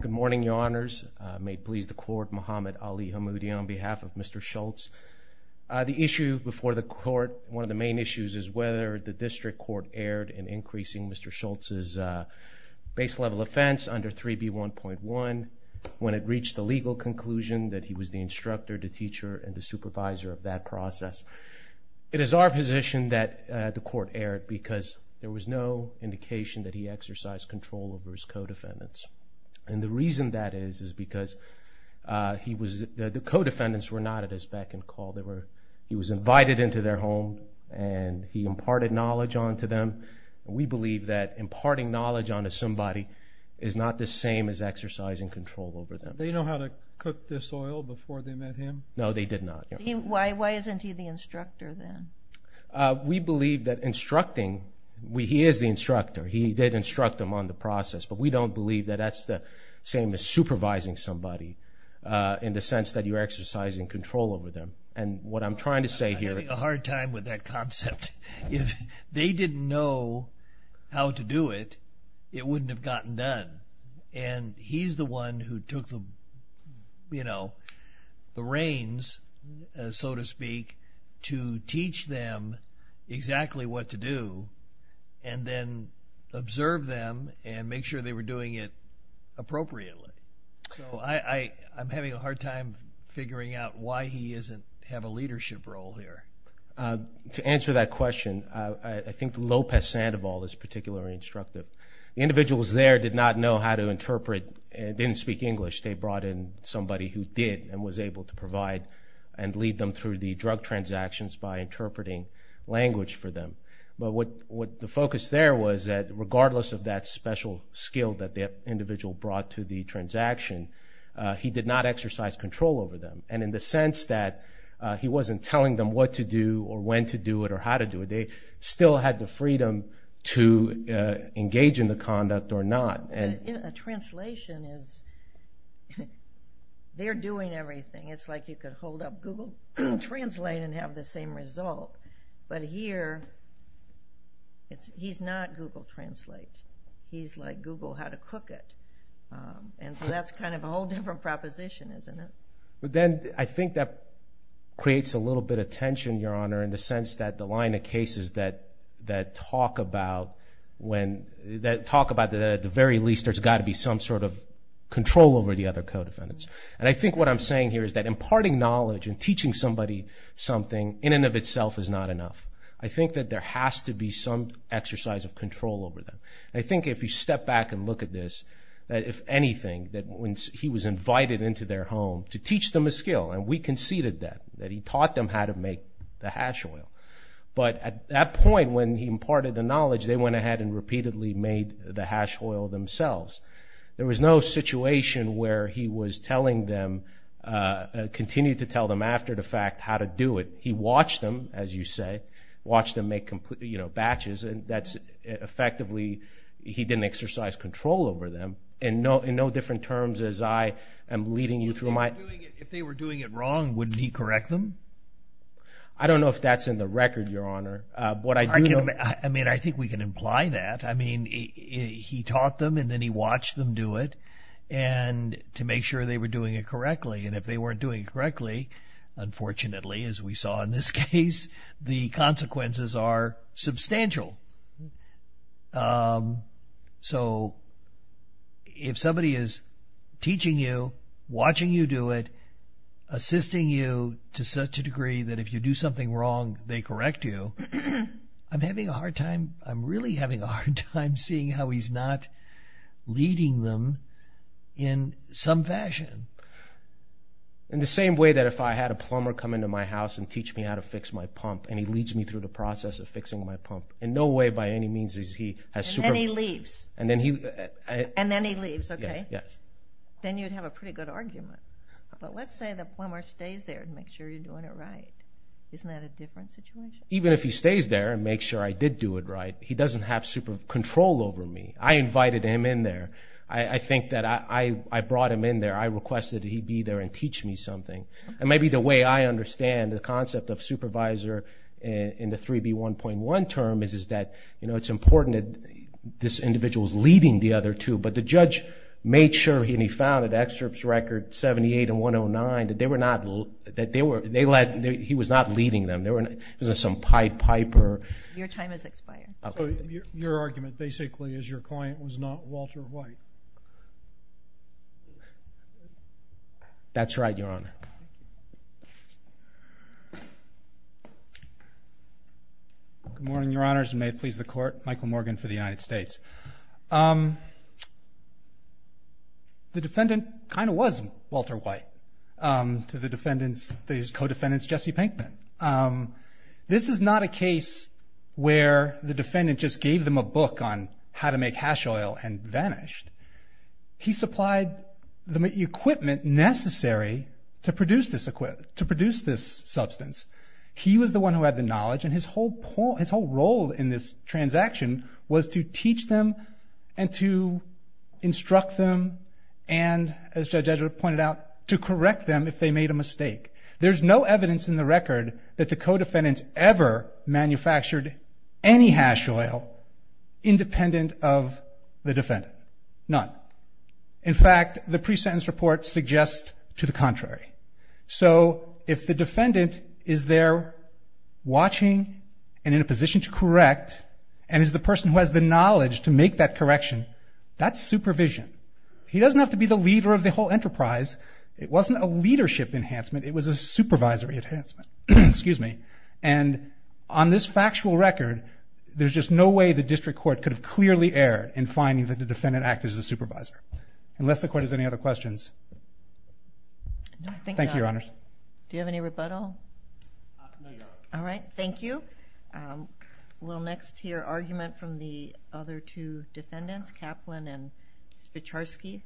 Good morning, your honors. May it please the court, Muhammad Ali Hammoudi on behalf of Mr. Schultz. The issue before the court, one of the main issues is whether the district court erred in increasing Mr. Schultz's base level offense under 3B1.1 when it reached the legal conclusion that he was the instructor, the teacher, and the supervisor of that process. It is our position that the court erred because there was no indication that he exercised control over his co-defendants. And the reason that is is because the co-defendants were not at his beck and call. He was invited into their home and he imparted knowledge onto them. We believe that imparting knowledge onto somebody is not the same as exercising control over them. Did they know how to cook this oil before they met him? No, they did not. Why isn't he the instructor then? We believe that instructing, he is the instructor, he did instruct them on the process, but we don't believe that that's the same as supervising somebody in the sense that you're exercising control over them. I'm having a hard time with that concept. If they didn't know how to do it, it wouldn't have gotten done. And he's the one who took the reins, so to speak, to teach them exactly what to do and then observe them and make sure they were doing it appropriately. So I'm having a hard time figuring out why he doesn't have a leadership role here. To answer that question, I think Lopez Sandoval is particularly instructive. The individuals there did not know how to interpret and didn't speak English. They brought in somebody who did and was able to provide and lead them through the drug transactions by interpreting language for them. But what the focus there was that regardless of that special skill that the individual brought to the transaction, he did not exercise control over them. And in the sense that he wasn't telling them what to do or when to do it or how to do it, they still had the freedom to engage in the conduct or not. A translation is they're doing everything. It's like you could hold up Google Translate and have the same result. But here he's not Google Translate. He's like Google how to cook it. And so that's kind of a whole different proposition, isn't it? in the sense that the line of cases that talk about that at the very least there's got to be some sort of control over the other co-defendants. And I think what I'm saying here is that imparting knowledge and teaching somebody something in and of itself is not enough. I think that there has to be some exercise of control over them. And I think if you step back and look at this, that if anything, that when he was invited into their home to teach them a skill, and we conceded that, that he taught them how to make the hash oil. But at that point when he imparted the knowledge, they went ahead and repeatedly made the hash oil themselves. There was no situation where he was telling them, continued to tell them after the fact how to do it. He watched them, as you say, watched them make batches, and that's effectively he didn't exercise control over them in no different terms as I am leading you through my. If they were doing it wrong, wouldn't he correct them? I don't know if that's in the record, Your Honor. I mean, I think we can imply that. I mean, he taught them and then he watched them do it to make sure they were doing it correctly. And if they weren't doing it correctly, unfortunately, as we saw in this case, the consequences are substantial. So if somebody is teaching you, watching you do it, assisting you to such a degree that if you do something wrong, they correct you, I'm having a hard time, I'm really having a hard time seeing how he's not leading them in some fashion. In the same way that if I had a plumber come into my house and teach me how to fix my pump, and he leads me through the process of fixing my pump, in no way by any means is he a supervisor. And then he leaves. And then he leaves, okay. Then you'd have a pretty good argument. But let's say the plumber stays there to make sure you're doing it right. Isn't that a different situation? Even if he stays there and makes sure I did do it right, he doesn't have control over me. I invited him in there. I think that I brought him in there. I requested that he be there and teach me something. And maybe the way I understand the concept of supervisor in the 3B1.1 term is that it's important that this individual is leading the other two. But the judge made sure, and he found in excerpts record 78 and 109, that he was not leading them. There was some Pied Piper. Your time has expired. So your argument basically is your client was not Walter White. That's right, Your Honor. Good morning, Your Honors, and may it please the Court. Michael Morgan for the United States. The defendant kind of was Walter White to the defendant's co-defendant, Jesse Pinkman. This is not a case where the defendant just gave them a book on how to make hash oil and vanished. He supplied the equipment necessary to produce this substance. He was the one who had the knowledge, and his whole role in this transaction was to teach them and to instruct them and, as Judge Edgeworth pointed out, to correct them if they made a mistake. There's no evidence in the record that the co-defendants ever manufactured any hash oil independent of the defendant. None. In fact, the pre-sentence report suggests to the contrary. So if the defendant is there watching and in a position to correct and is the person who has the knowledge to make that correction, that's supervision. He doesn't have to be the leader of the whole enterprise. It wasn't a leadership enhancement. It was a supervisory enhancement. And on this factual record, there's just no way the district court could have clearly erred in finding that the defendant acted as a supervisor. Unless the court has any other questions. Thank you, Your Honors. Do you have any rebuttal? No, Your Honor. All right, thank you. We'll next hear argument from the other two defendants, Kaplan and Spicharski.